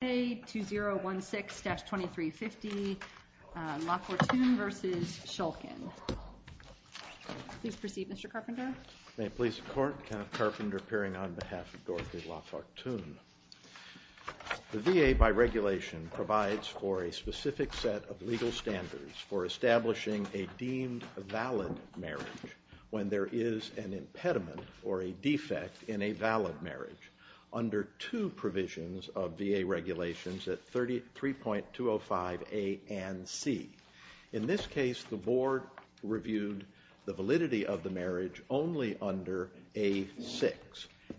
The VA, by regulation, provides for a specific set of legal standards for establishing a deemed valid marriage when there is an impediment or a defect in a valid marriage under two provisions of VA regulations at 3.205A and 3.205C. In this case, the Board reviewed the validity of the marriage only under 3.205A and 3.205C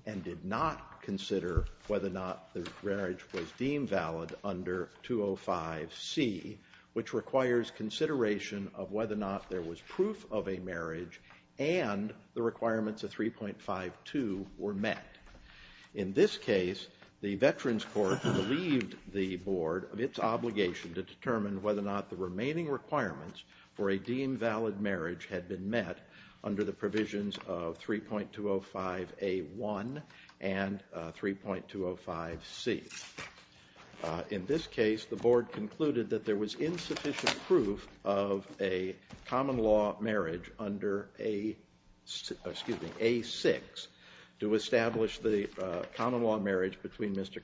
and did not consider whether or not the marriage was deemed valid under 3.205C, which requires consideration of whether or not the requirements of 3.52 were met. In this case, the Veterans Court relieved the Board of its obligation to determine whether or not the remaining requirements for a deemed valid marriage had been met under the provisions of 3.205A1 and 3.205C. In this case, the Board that there was insufficient proof of a common law marriage under A6 to establish the common law marriage between Mr.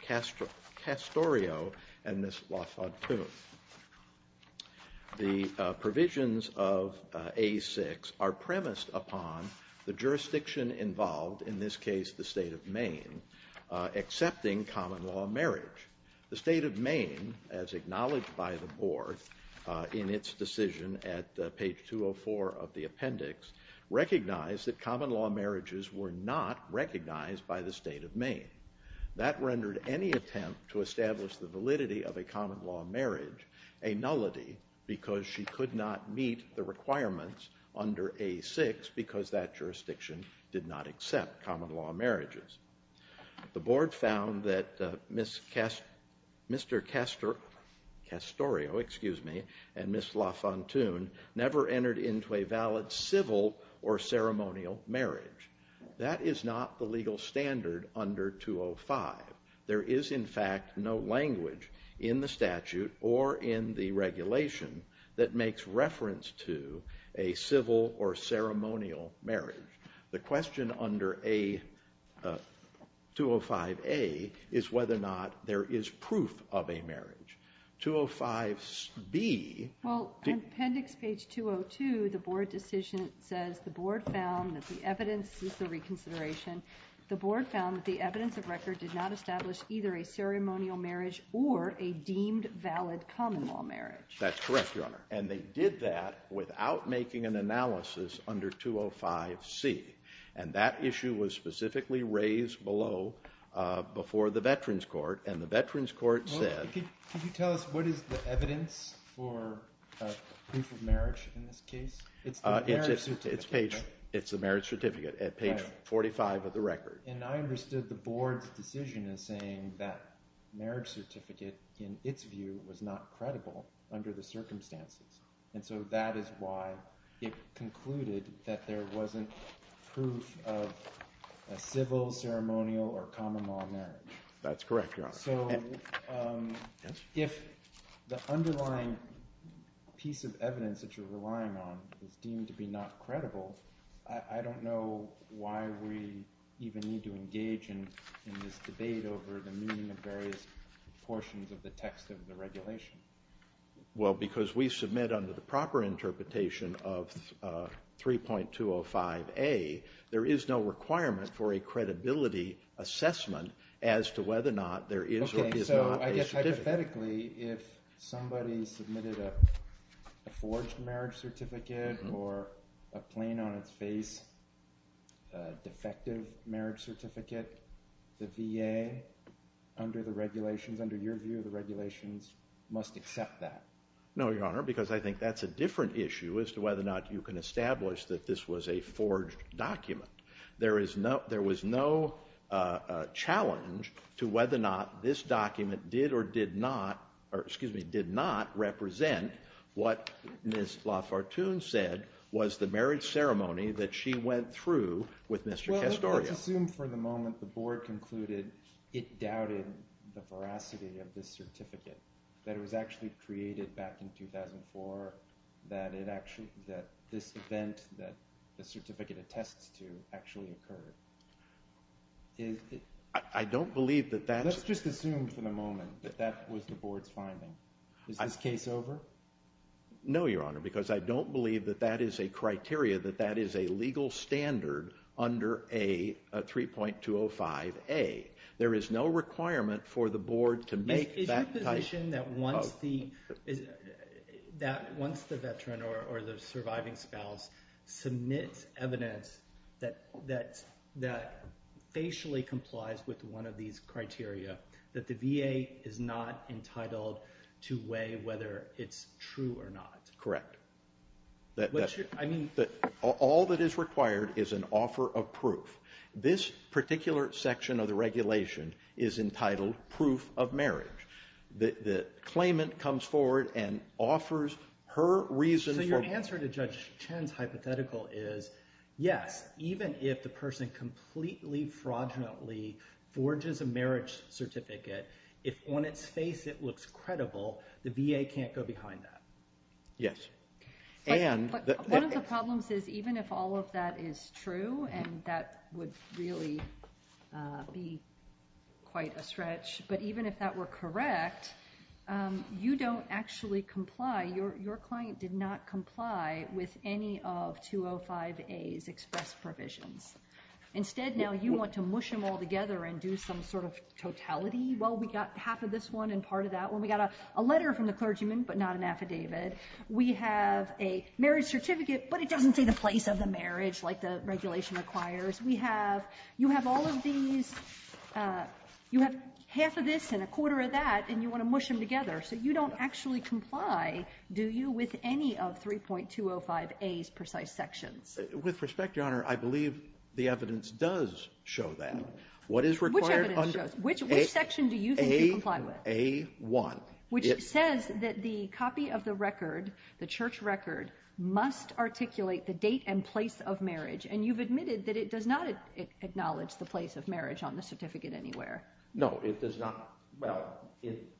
Castorio and Ms. Lafortune. The provisions of A6 are premised upon the jurisdiction involved, in this case the state of Maine, accepting common law marriage. The state of Maine, as acknowledged by the Board in its decision at page 204 of the appendix, recognized that common law marriages were not recognized by the state of Maine. That rendered any attempt to establish the validity of a common law marriage a nullity because she could not meet the requirements under A6 because that jurisdiction did not accept common law marriages. The Board found that Ms. Castorio and Ms. Lafortune never entered into a valid civil or ceremonial marriage. That is not the legal standard under 2.05. There is, in fact, no language in the statute or in the regulation that makes reference to a civil or ceremonial marriage. The question under 2.05A is whether or not there is proof of a marriage. 2.05B... Well, on appendix page 202, the Board decision says the Board found that the evidence is the reconsideration. The Board found that the evidence of record did not establish either a ceremonial marriage or a deemed valid common law marriage. That's correct, Your Honor, and they did that without making an analysis under 2.05C, and that issue was brought to the Veterans Court, and the Veterans Court said... Well, could you tell us what is the evidence for proof of marriage in this case? It's the marriage certificate, right? It's the marriage certificate at page 45 of the record. And I understood the Board's decision in saying that marriage certificate, in its view, was not credible under the circumstances, and so that is why it concluded that there wasn't proof of a civil, ceremonial, or common law marriage. That's correct, Your Honor. So if the underlying piece of evidence that you're relying on is deemed to be not credible, I don't know why we even need to engage in this debate over the meaning of various portions of the text of the regulation. Well, because we submit under the proper interpretation of 3.205A, there is no requirement for a credibility assessment as to whether or not there is or is not a certificate. Okay, so I guess hypothetically, if somebody submitted a forged marriage certificate or a plain-on-its-face defective marriage certificate, the VA, under the regulations, under your view, the regulations must accept that. No, Your Honor, because I think that's a different issue as to whether or not you can establish that this was a forged document. There was no challenge to whether or not this document did or did not, or excuse me, did not represent what Ms. LaFortune said was the marriage ceremony that she went through with Mr. Castorio. Well, let's assume for the moment the Board concluded it doubted the veracity of this certificate, that it was actually created back in 2004, that this event that the certificate attests to actually occurred. Let's just assume for the moment that that was the Board's finding. Is this case over? No, Your Honor, because I don't believe that that is a criteria, that that is a 3.205A. There is no requirement for the Board to make that type of... Is your position that once the veteran or the surviving spouse submits evidence that facially complies with one of these criteria, that the VA is not entitled to weigh whether it's true or not? Correct. All that is required is an offer of proof. This particular section of the regulation is entitled proof of marriage. The claimant comes forward and offers her reason... So your answer to Judge Chen's hypothetical is, yes, even if the person completely fraudulently forges a marriage certificate, if on its face it looks credible, the VA can't go behind that? Yes. One of the problems is, even if all of that is true, and that would really be quite a stretch, but even if that were correct, you don't actually comply. Your client did not and do some sort of totality. Well, we got half of this one and part of that one. We got a letter from the clergyman, but not an affidavit. We have a marriage certificate, but it doesn't say the place of the marriage like the regulation requires. You have half of this and a quarter of that, and you want to mush them together. So you don't actually comply, do you, with any of 3.205A's Which section do you think you comply with? A1. Which says that the copy of the record, the church record, must articulate the date and place of marriage, and you've admitted that it does not acknowledge the place of marriage on the certificate anywhere. No, it does not. Well, it...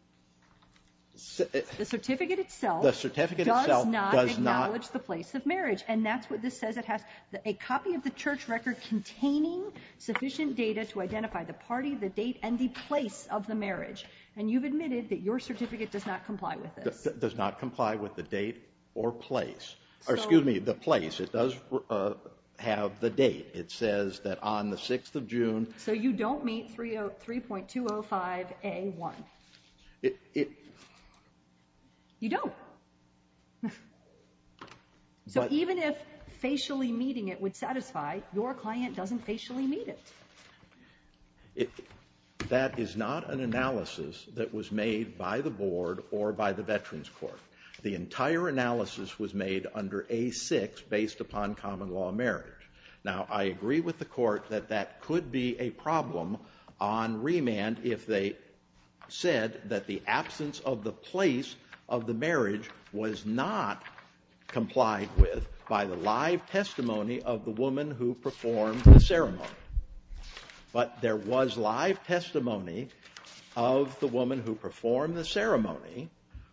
The certificate itself does not acknowledge the place of marriage, and that's what this says it has. A copy of the church record containing sufficient data to identify the party, the date, and the place of the marriage, and you've admitted that your certificate does not comply with this. Does not comply with the date or place, or excuse me, the place. It does have the date. It says that on the 6th of June... So you don't meet 3.205A1. You don't. So even if facially meeting it would satisfy, your client doesn't facially meet it. That is not an analysis that was made by the Board or by the Veterans Court. The entire analysis was made under A6 based upon common law marriage. Now, I agree with the Court that that could be a problem on remand if they said that the absence of the place of the marriage was not complied with by the live testimony of the woman who performed the ceremony. But there was live testimony of the woman who performed the ceremony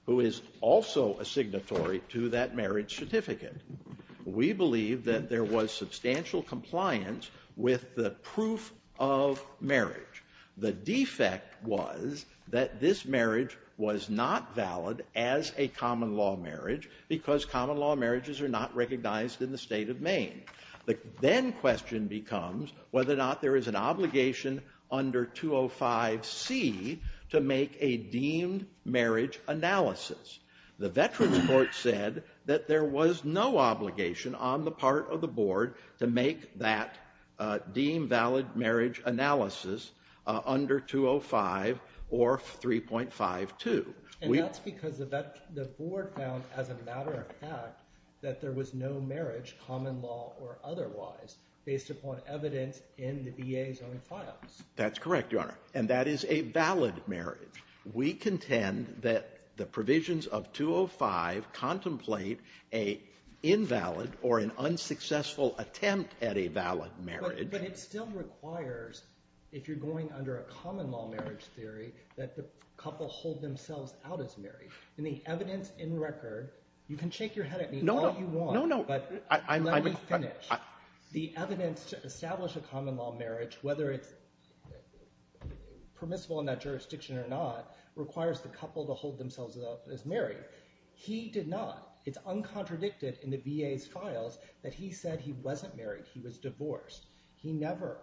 who is also a signatory to that marriage certificate. We believe that there was substantial compliance with the proof of marriage. The defect was that this marriage was not valid as a common law marriage because common law marriages are not recognized in the state of Maine. The then question becomes whether or not there is an obligation under 205C to make a deemed marriage analysis. The Veterans Court said that there was no obligation on the part of the Board to make that deemed valid marriage analysis under 205 or 3.52. And that's because the Board found, as a matter of fact, that there was no marriage, common law or otherwise, based upon evidence in the VA's own files. That's correct, Your Honor, and that is a valid marriage. We contend that the provisions of 205 contemplate an invalid or an unsuccessful attempt at a valid marriage. But it still requires, if you're going under a common law marriage theory, that the couple hold themselves out as married. In the evidence in record, you can shake your head at me all you want, but let me finish. The evidence to establish a common law marriage, whether it's permissible in that jurisdiction or not, requires the couple to hold themselves out as married. He did not. It's uncontradicted in the VA's files that he said he wasn't married. He was divorced. He never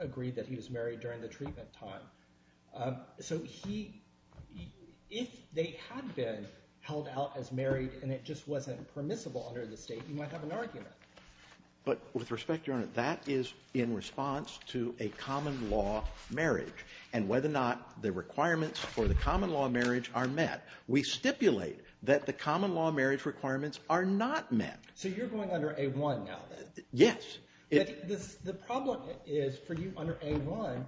agreed that he was married during the treatment time. So if they had been held out as married and it just wasn't permissible under the state, you might have an argument. But with respect, Your Honor, that is in response to a common law marriage. And whether or not the requirements for the common law marriage are met, we stipulate that the common law marriage requirements are not met. So you're going under A-1 now, then? Yes. The problem is, for you under A-1,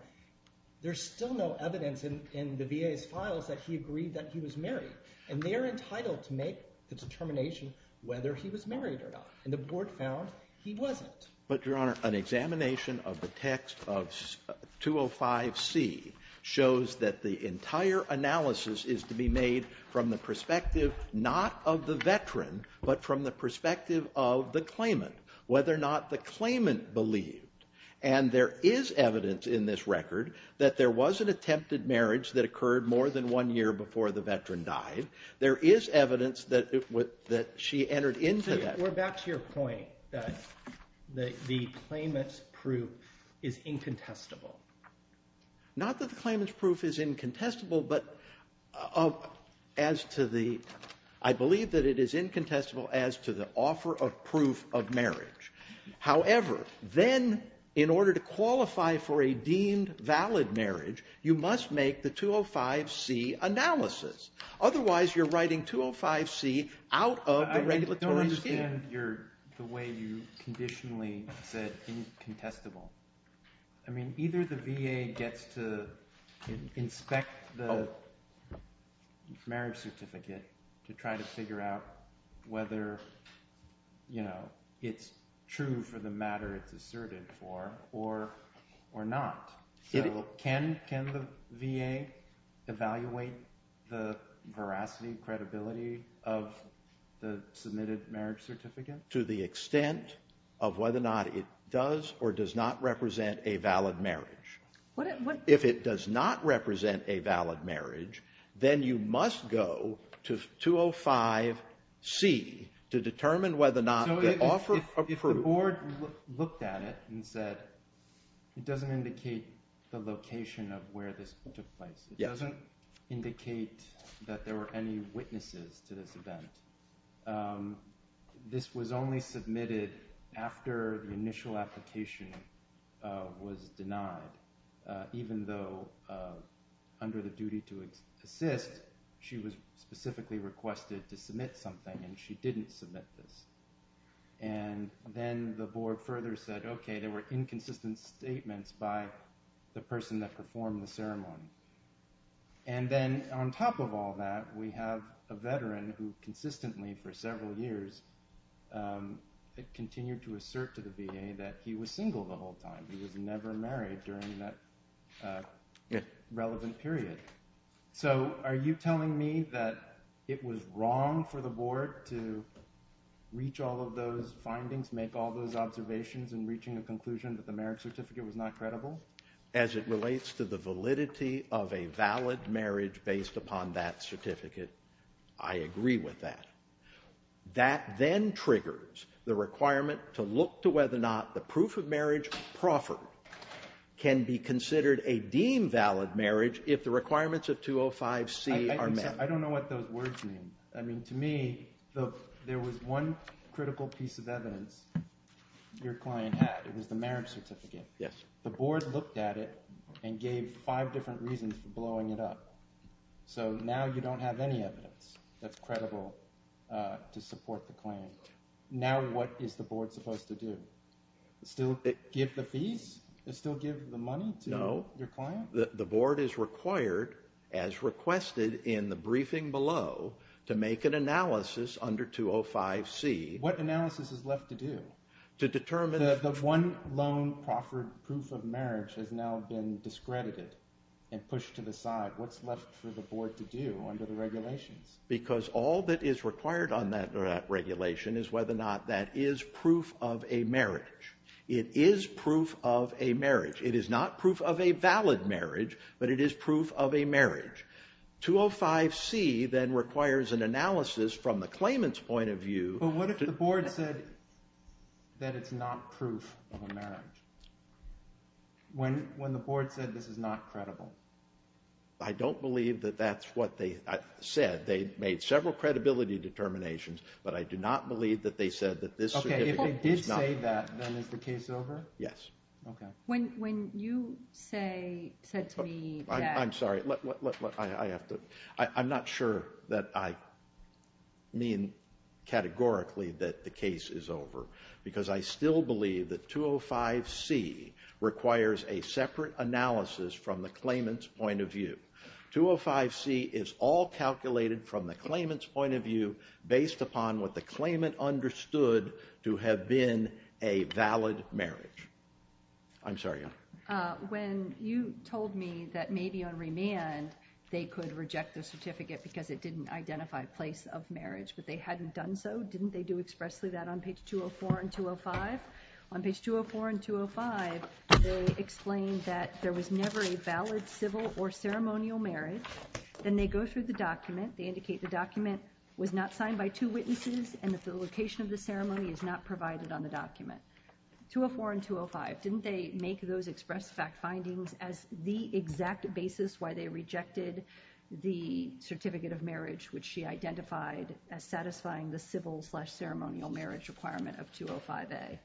there's still no evidence in the VA's files that he agreed that he was married. And they're entitled to make the determination whether he was married or not. And the board found he wasn't. But, Your Honor, an examination of the text of 205C shows that the entire analysis is to be made from the perspective not of the veteran, but from the perspective of the claimant, whether or not the claimant believed. And there is evidence in this record that there was an attempted marriage that occurred more than one year before the veteran died. There is evidence that she entered into that. We're back to your point that the claimant's proof is incontestable. Not that the claimant's proof is incontestable, but I believe that it is incontestable as to the offer of proof of marriage. However, then, in order to qualify for a deemed valid marriage, you must make the 205C analysis. Otherwise, you're writing 205C out of the regulatory scheme. The way you conditionally said incontestable. I mean, either the VA gets to inspect the marriage certificate to try to figure out whether it's true for the matter it's asserted for or not. Can the VA evaluate the veracity, credibility of the submitted marriage certificate? To the extent of whether or not it does or does not represent a valid marriage. If it does not represent a valid marriage, then you must go to 205C to determine whether or not the offer of proof. The board looked at it and said, it doesn't indicate the location of where this took place. It doesn't indicate that there were any witnesses to this event. This was only submitted after the initial application was denied. Even though, under the duty to assist, she was specifically requested to submit something and she didn't submit this. And then the board further said, OK, there were inconsistent statements by the person that performed the ceremony. And then on top of all that, we have a veteran who consistently for several years continued to assert to the VA that he was single the whole time. He was never married during that relevant period. So are you telling me that it was wrong for the board to reach all of those findings, make all those observations, and reaching a conclusion that the marriage certificate was not credible? As it relates to the validity of a valid marriage based upon that certificate, I agree with that. That then triggers the requirement to look to whether or not the proof of marriage proffered can be considered a deemed valid marriage if the requirements of 205C are met. I don't know what those words mean. I mean, to me, there was one critical piece of evidence your client had. It was the marriage certificate. Yes. The board looked at it and gave five different reasons for blowing it up. So now you don't have any evidence that's credible to support the claim. Now what is the board supposed to do? Still give the fees? Still give the money to your client? No. The board is required, as requested in the briefing below, to make an analysis under 205C. What analysis is left to do? To determine— The one loan proffered proof of marriage has now been discredited and pushed to the side. What's left for the board to do under the regulations? Because all that is required under that regulation is whether or not that is proof of a marriage. It is proof of a marriage. It is not proof of a valid marriage, but it is proof of a marriage. 205C then requires an analysis from the claimant's point of view— But what if the board said that it's not proof of a marriage? When the board said this is not credible? I don't believe that that's what they said. They made several credibility determinations, but I do not believe that they said that this— Okay, if they did say that, then is the case over? Yes. Okay. When you said to me that— I'm sorry, I'm not sure that I mean categorically that the case is over, because I still believe that 205C requires a separate analysis from the claimant's point of view. 205C is all calculated from the claimant's point of view, based upon what the claimant understood to have been a valid marriage. I'm sorry. When you told me that maybe on remand, they could reject the certificate because it didn't identify a place of marriage, but they hadn't done so? Didn't they do expressly that on page 204 and 205? On page 204 and 205, they explained that there was never a valid civil or ceremonial marriage. Then they go through the document. They indicate the document was not signed by two witnesses, and that the location of the ceremony is not provided on the document. 204 and 205, didn't they make those expressed fact findings as the exact basis why they rejected the certificate of marriage, which she identified as satisfying the civil slash ceremonial marriage requirement of 205A?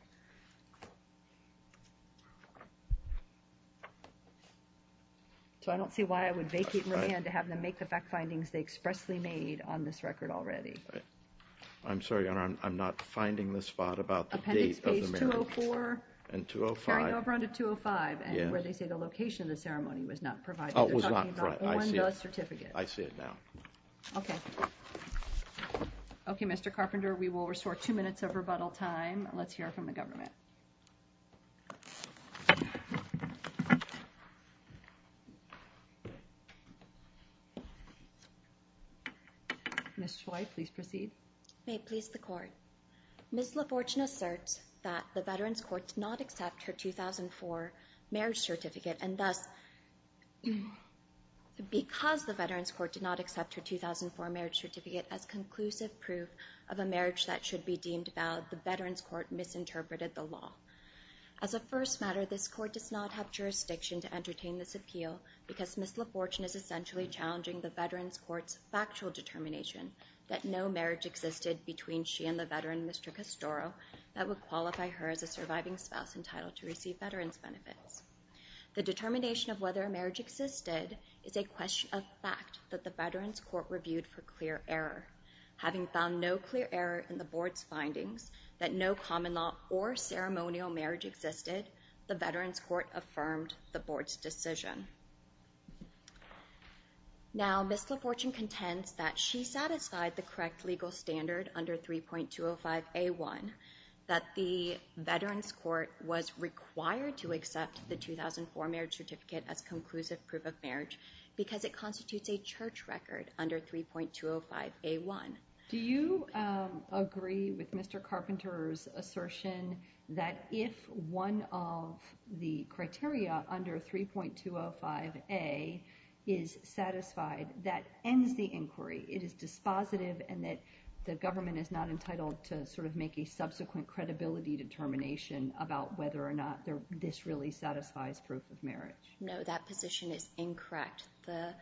So I don't see why I would vacate remand to have them make the fact findings they expressly made on this record already. I'm sorry, Your Honor. I'm not finding the spot about the date of the marriage. Appendix page 204? And 205. Carrying over onto 205, and where they say the location of the ceremony was not provided. Oh, it was not. They're talking about on the certificate. I see it now. Okay. Okay, Mr. Carpenter. We will restore two minutes of rebuttal time. Let's hear from the government. Ms. Choi, please proceed. May it please the court. Ms. LaFortune asserts that the Veterans Court did not accept her 2004 marriage certificate, and thus, because the Veterans Court did not accept her 2004 marriage certificate as conclusive proof of a marriage that should be deemed valid, the Veterans Court misinterpreted the law. As a first matter, this court does not have jurisdiction to entertain this appeal because Ms. LaFortune is essentially challenging the Veterans Court's factual determination that no marriage existed between she and the veteran, Mr. Castoro, that would qualify her as a surviving spouse entitled to receive veterans benefits. The determination of whether a marriage existed is a question of fact that the Veterans Court reviewed for clear error. Having found no clear error in the board's findings that no common law or ceremonial marriage existed, the Veterans Court affirmed the board's decision. Now, Ms. LaFortune contends that she satisfied the correct legal standard under 3.205A1 that the Veterans Court was required to accept the 2004 marriage certificate as conclusive proof of marriage because it constitutes a church record under 3.205A1. Do you agree with Mr. Carpenter's assertion that if one of the criteria under 3.205A is satisfied, that ends the inquiry, it is dispositive, and that the government is not entitled to sort of make a subsequent credibility determination about whether or not this really satisfies proof of marriage? No, that position is incorrect. The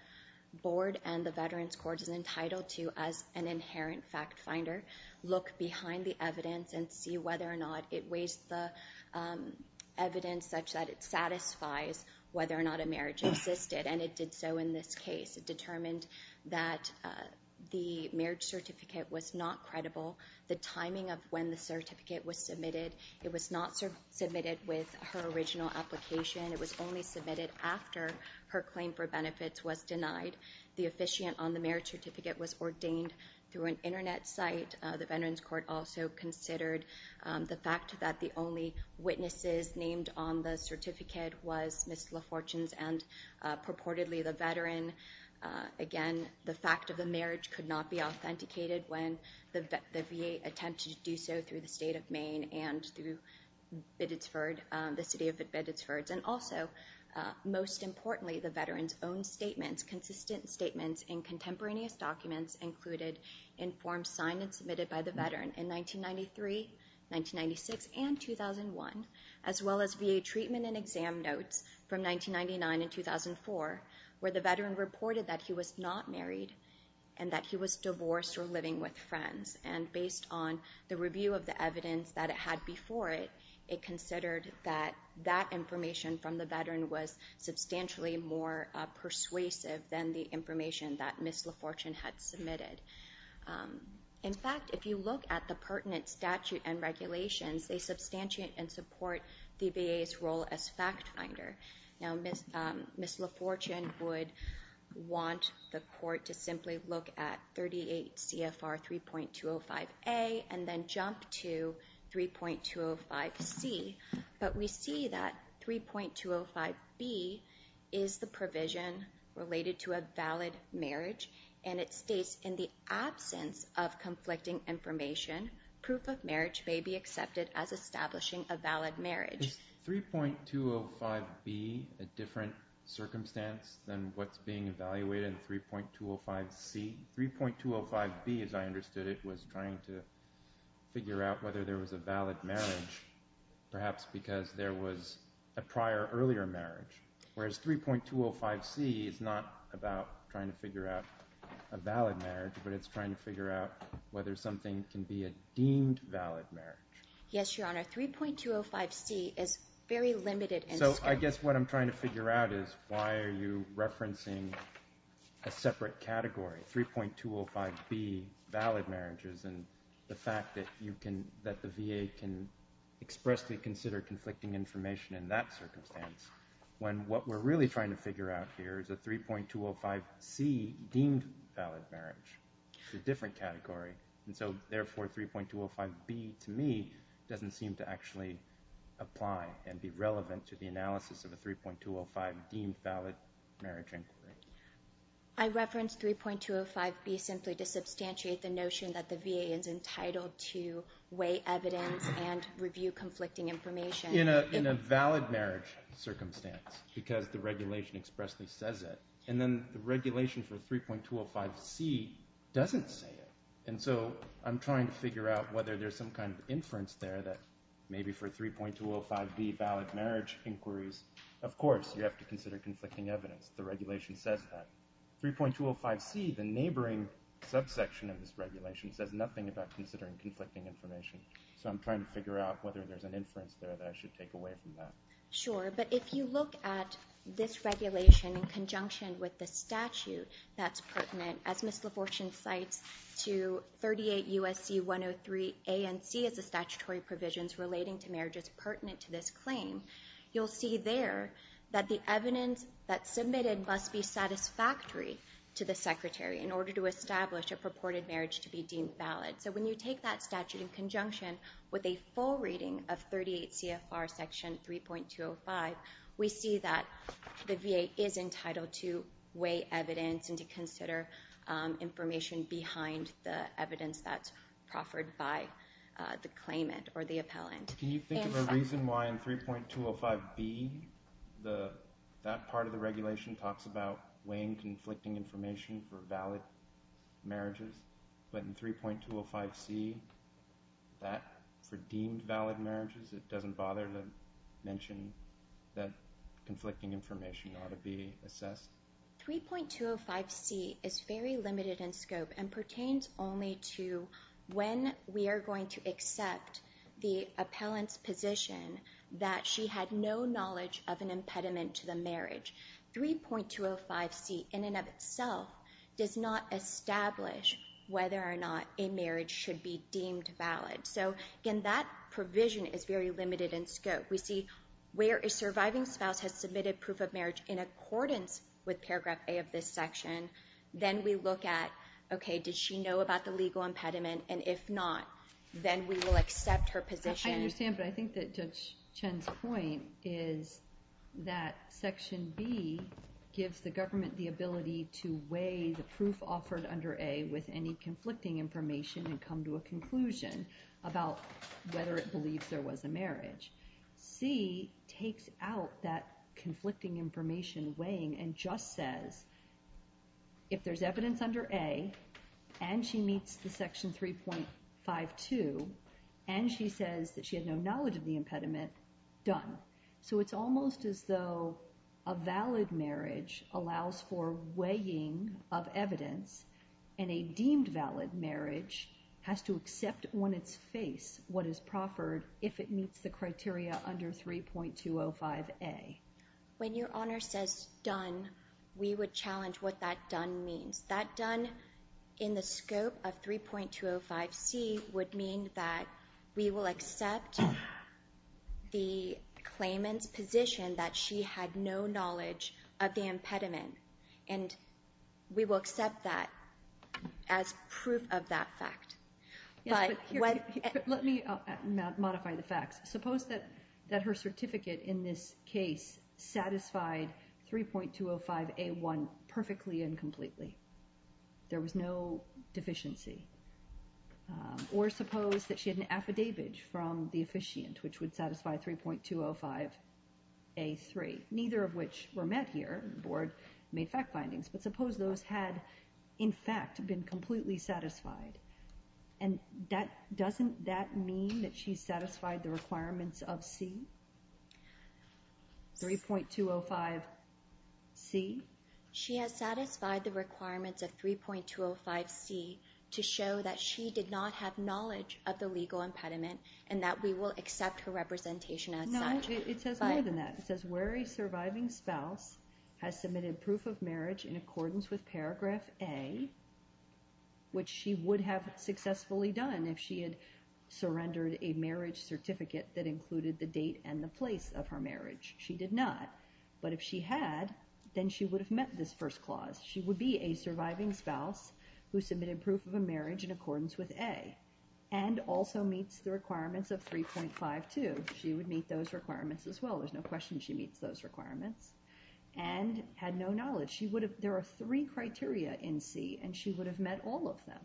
board and the Veterans Court is entitled to, as an inherent fact finder, look behind the evidence and see whether or not it weighs the evidence such that it satisfies whether or not a marriage existed, and it did so in this case. It determined that the marriage certificate was not credible. The timing of when the certificate was submitted, it was not submitted with her original application. It was only submitted after her claim for benefits was denied. The officiant on the marriage certificate was ordained through an internet site. The Veterans Court also considered the fact that the only witnesses named on the certificate was Ms. LaFortune's and purportedly the veteran. Again, the fact of the marriage could not be authenticated when the VA attempted to through the state of Maine and through Biddesford, the city of Biddesford, and also, most importantly, the veteran's own statements, consistent statements in contemporaneous documents included in forms signed and submitted by the veteran in 1993, 1996, and 2001, as well as VA treatment and exam notes from 1999 and 2004, where the veteran reported that he was not married and that he was divorced or living with friends. And based on the review of the evidence that it had before it, it considered that that information from the veteran was substantially more persuasive than the information that Ms. LaFortune had submitted. In fact, if you look at the pertinent statute and regulations, they substantiate and support the VA's role as fact finder. Now, Ms. LaFortune would want the court to simply look at 38 CFR 3.205A and then jump to 3.205C, but we see that 3.205B is the provision related to a valid marriage, and it states in the absence of conflicting information, proof of marriage may be accepted as establishing a valid marriage. Is 3.205B a different circumstance than what's being evaluated in 3.205C? 3.205B, as I understood it, was trying to figure out whether there was a valid marriage, perhaps because there was a prior earlier marriage, whereas 3.205C is not about trying to figure out a valid marriage, but it's trying to figure out whether something can be a deemed valid marriage. Yes, Your Honor, 3.205C is very limited. So I guess what I'm trying to figure out is why are you referencing a separate category, 3.205B, valid marriages, and the fact that the VA can expressly consider conflicting information in that circumstance, when what we're really trying to figure out here is a 3.205C deemed valid marriage. It's a different category. And so therefore, 3.205B, to me, doesn't seem to actually apply and be relevant to the analysis of a 3.205 deemed valid marriage inquiry. I referenced 3.205B simply to substantiate the notion that the VA is entitled to weigh evidence and review conflicting information. In a valid marriage circumstance, because the regulation expressly says it. And then the regulation for 3.205C doesn't say it. And so I'm trying to figure out whether there's some kind of inference there that maybe for 3.205B, valid marriage inquiries, of course, you have to consider conflicting evidence. The regulation says that. 3.205C, the neighboring subsection of this regulation, says nothing about considering conflicting information. So I'm trying to figure out whether there's an inference there that I should take away from that. Sure, but if you look at this regulation in conjunction with the statute that's pertinent, as Ms. LaFortune cites, to 38 U.S.C. 103 A and C as the statutory provisions relating to marriages pertinent to this claim, you'll see there that the evidence that's submitted must be satisfactory to the Secretary in order to establish a purported marriage to be deemed valid. So when you take that statute in conjunction with a full reading of 38 CFR section 3.205, we see that the VA is entitled to weigh evidence and to consider information behind the evidence that's proffered by the claimant or the appellant. Can you think of a reason why in 3.205B, that part of the regulation talks about weighing conflicting information for valid marriages, but in 3.205C, that for deemed valid marriages, it doesn't bother to mention that conflicting information ought to be assessed? 3.205C is very limited in scope and pertains only to when we are going to accept the appellant's position that she had no knowledge of an impediment to the marriage. 3.205C in and of itself does not establish whether or not a marriage should be deemed valid. So again, that provision is very limited in scope. We see where a surviving spouse has submitted proof of marriage in accordance with paragraph A of this section. Then we look at, okay, did she know about the legal impediment? And if not, then we will accept her position. I understand, but I think that Judge Chen's point is that section B gives the government the ability to weigh the proof offered under A with any conflicting information and come to a conclusion. About whether it believes there was a marriage. C takes out that conflicting information weighing and just says, if there's evidence under A and she meets the section 3.52 and she says that she had no knowledge of the impediment, done. So it's almost as though a valid marriage allows for weighing of evidence and a deemed valid marriage has to accept on its face what is proffered if it meets the criteria under 3.205A. When your Honor says done, we would challenge what that done means. That done in the scope of 3.205C would mean that we will accept the claimant's position that she had no knowledge of the impediment. And we will accept that as proof of that fact. Let me modify the facts. Suppose that her certificate in this case satisfied 3.205A1 perfectly and completely. There was no deficiency. Or suppose that she had an affidavit from the officiant which would satisfy 3.205A3. Neither of which were met here. The board made fact findings. But suppose those had, in fact, been completely satisfied. And doesn't that mean that she satisfied the requirements of C? 3.205C? She has satisfied the requirements of 3.205C to show that she did not have knowledge of the legal impediment and that we will accept her representation as such. No, it says more than that. Where a surviving spouse has submitted proof of marriage in accordance with paragraph A, which she would have successfully done if she had surrendered a marriage certificate that included the date and the place of her marriage. She did not. But if she had, then she would have met this first clause. She would be a surviving spouse who submitted proof of a marriage in accordance with A. And also meets the requirements of 3.52. She would meet those requirements as well. There's no question she meets those requirements. And had no knowledge. She would have... There are three criteria in C and she would have met all of them.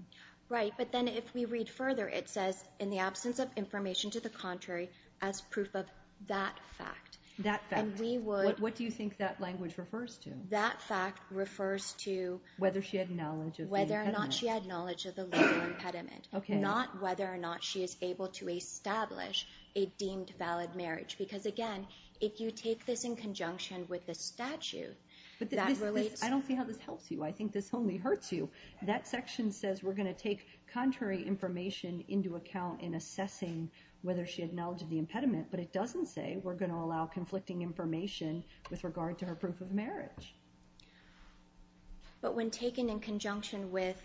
Right. But then if we read further, it says, in the absence of information to the contrary, as proof of that fact. That fact. And we would... What do you think that language refers to? That fact refers to... Whether she had knowledge of the impediment. Whether or not she had knowledge of the legal impediment. Okay. Not whether or not she is able to establish a deemed valid marriage. Because again, if you take this in conjunction with the statute that relates... I don't see how this helps you. I think this only hurts you. That section says we're going to take contrary information into account in assessing whether she had knowledge of the impediment. But it doesn't say we're going to allow conflicting information with regard to her proof of marriage. But when taken in conjunction with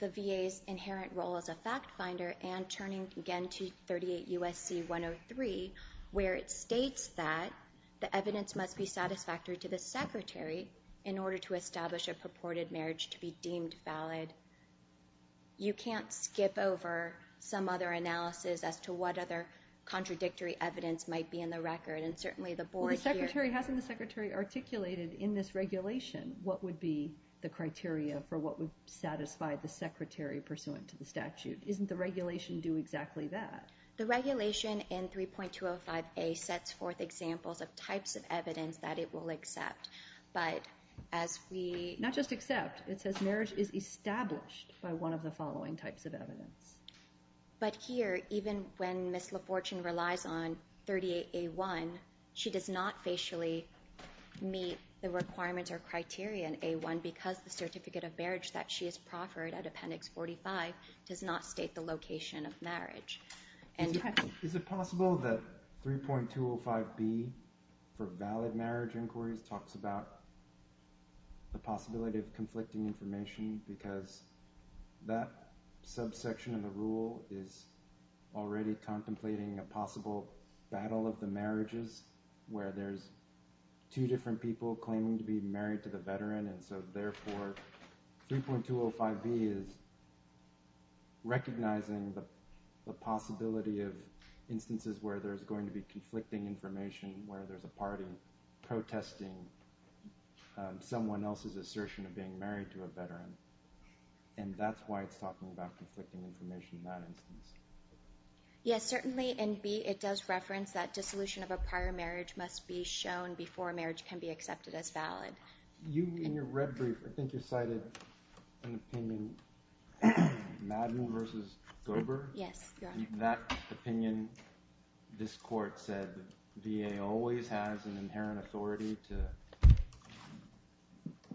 the VA's inherent role as a fact finder and turning again to 38 U.S.C. 103, where it states that the evidence must be satisfactory to the secretary in order to establish a purported marriage to be deemed valid, you can't skip over some other analysis as to what other contradictory evidence might be in the record. And certainly the board here... Hasn't the secretary articulated in this regulation what would be the criteria for what would satisfy the secretary pursuant to the statute? Isn't the regulation due exactly that? The regulation in 3.205A sets forth examples of types of evidence that it will accept. But as we... Not just accept. It says marriage is established by one of the following types of evidence. But here, even when Ms. LaFortune relies on 38A1, she does not facially meet the requirements or criteria in A1 because the certificate of marriage that she has proffered at Appendix 45 does not state the location of marriage. Is it possible that 3.205B for valid marriage inquiries talks about the possibility of conflicting information because that subsection of the rule is already contemplating a possible battle of the marriages where there's two different people claiming to be married to a veteran and therefore 3.205B is recognizing the possibility of instances where there's going to be conflicting information where there's a party protesting someone else's assertion of being married to a veteran. And that's why it's talking about conflicting information in that instance. Yes, certainly. And B, it does reference that dissolution of a prior marriage must be shown before marriage can be accepted as valid. You, in your red brief, I think you cited an opinion, Madden versus Gober. Yes, Your Honor. That opinion, this court said VA always has an inherent authority to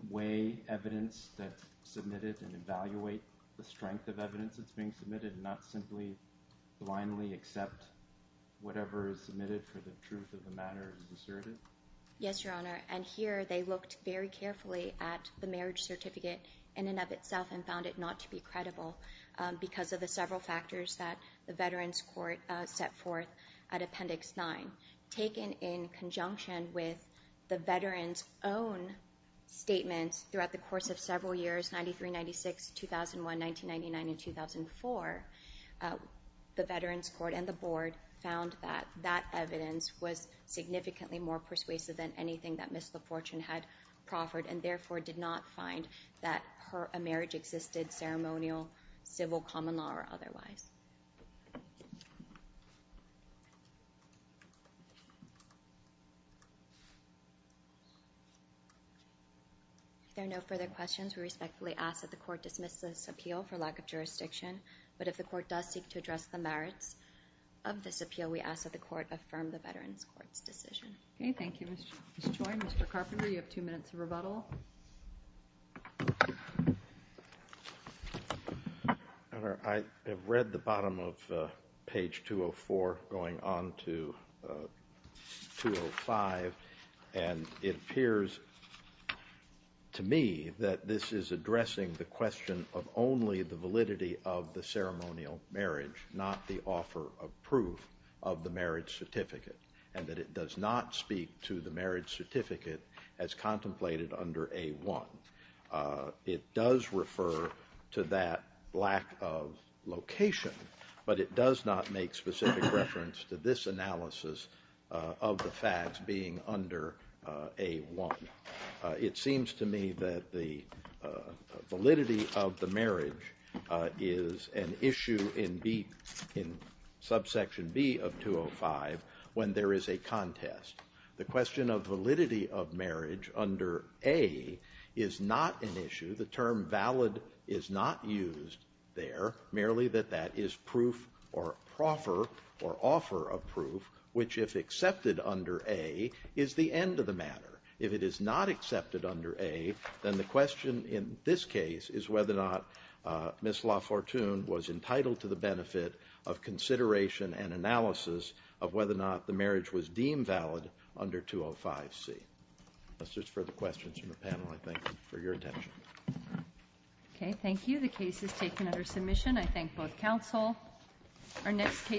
weigh evidence that's submitted and evaluate the strength of evidence that's being submitted and not simply blindly accept whatever is submitted for the truth of the matter is asserted. Yes, Your Honor. And here, they looked very carefully at the marriage certificate in and of itself and found it not to be credible because of the several factors that the Veterans Court set forth at Appendix 9. Taken in conjunction with the veterans' own statements throughout the course of several years, 93, 96, 2001, 1999, and 2004, the Veterans Court and the board found that that evidence was significantly more persuasive than anything that Ms. LaFortune had proffered and therefore did not find that a marriage existed ceremonial, civil, common law, or otherwise. If there are no further questions, we respectfully ask that the court dismiss this appeal for lack of jurisdiction. But if the court does seek to address the merits of this appeal, we ask that the court affirm the Veterans Court's decision. Okay, thank you, Ms. Choi. Mr. Carpenter, you have two minutes of rebuttal. Your Honor, I have read the bottom of page 204 going on to 205, and it appears to me that this is addressing the question of only the validity of the ceremonial marriage, not the offer of proof of the marriage certificate, and that it does not speak to the marriage certificate as contemplated under A-1. It does refer to that lack of location, but it does not make specific reference to this analysis of the facts being under A-1. It seems to me that the validity of the marriage is an issue in B, in subsection B of 205, when there is a contest. The question of validity of marriage under A is not an issue. The term valid is not used there, merely that that is proof or proffer or offer of proof, which if accepted under A, is the end of the matter. If it is not accepted under A, then the question in this case is whether or not Ms. LaFortune was entitled to the benefit of consideration and analysis of whether or not the marriage was deemed valid under 205-C. Unless there's further questions from the panel, I thank you for your attention. Okay, thank you. The case is taken under submission. I thank both counsel. Our next case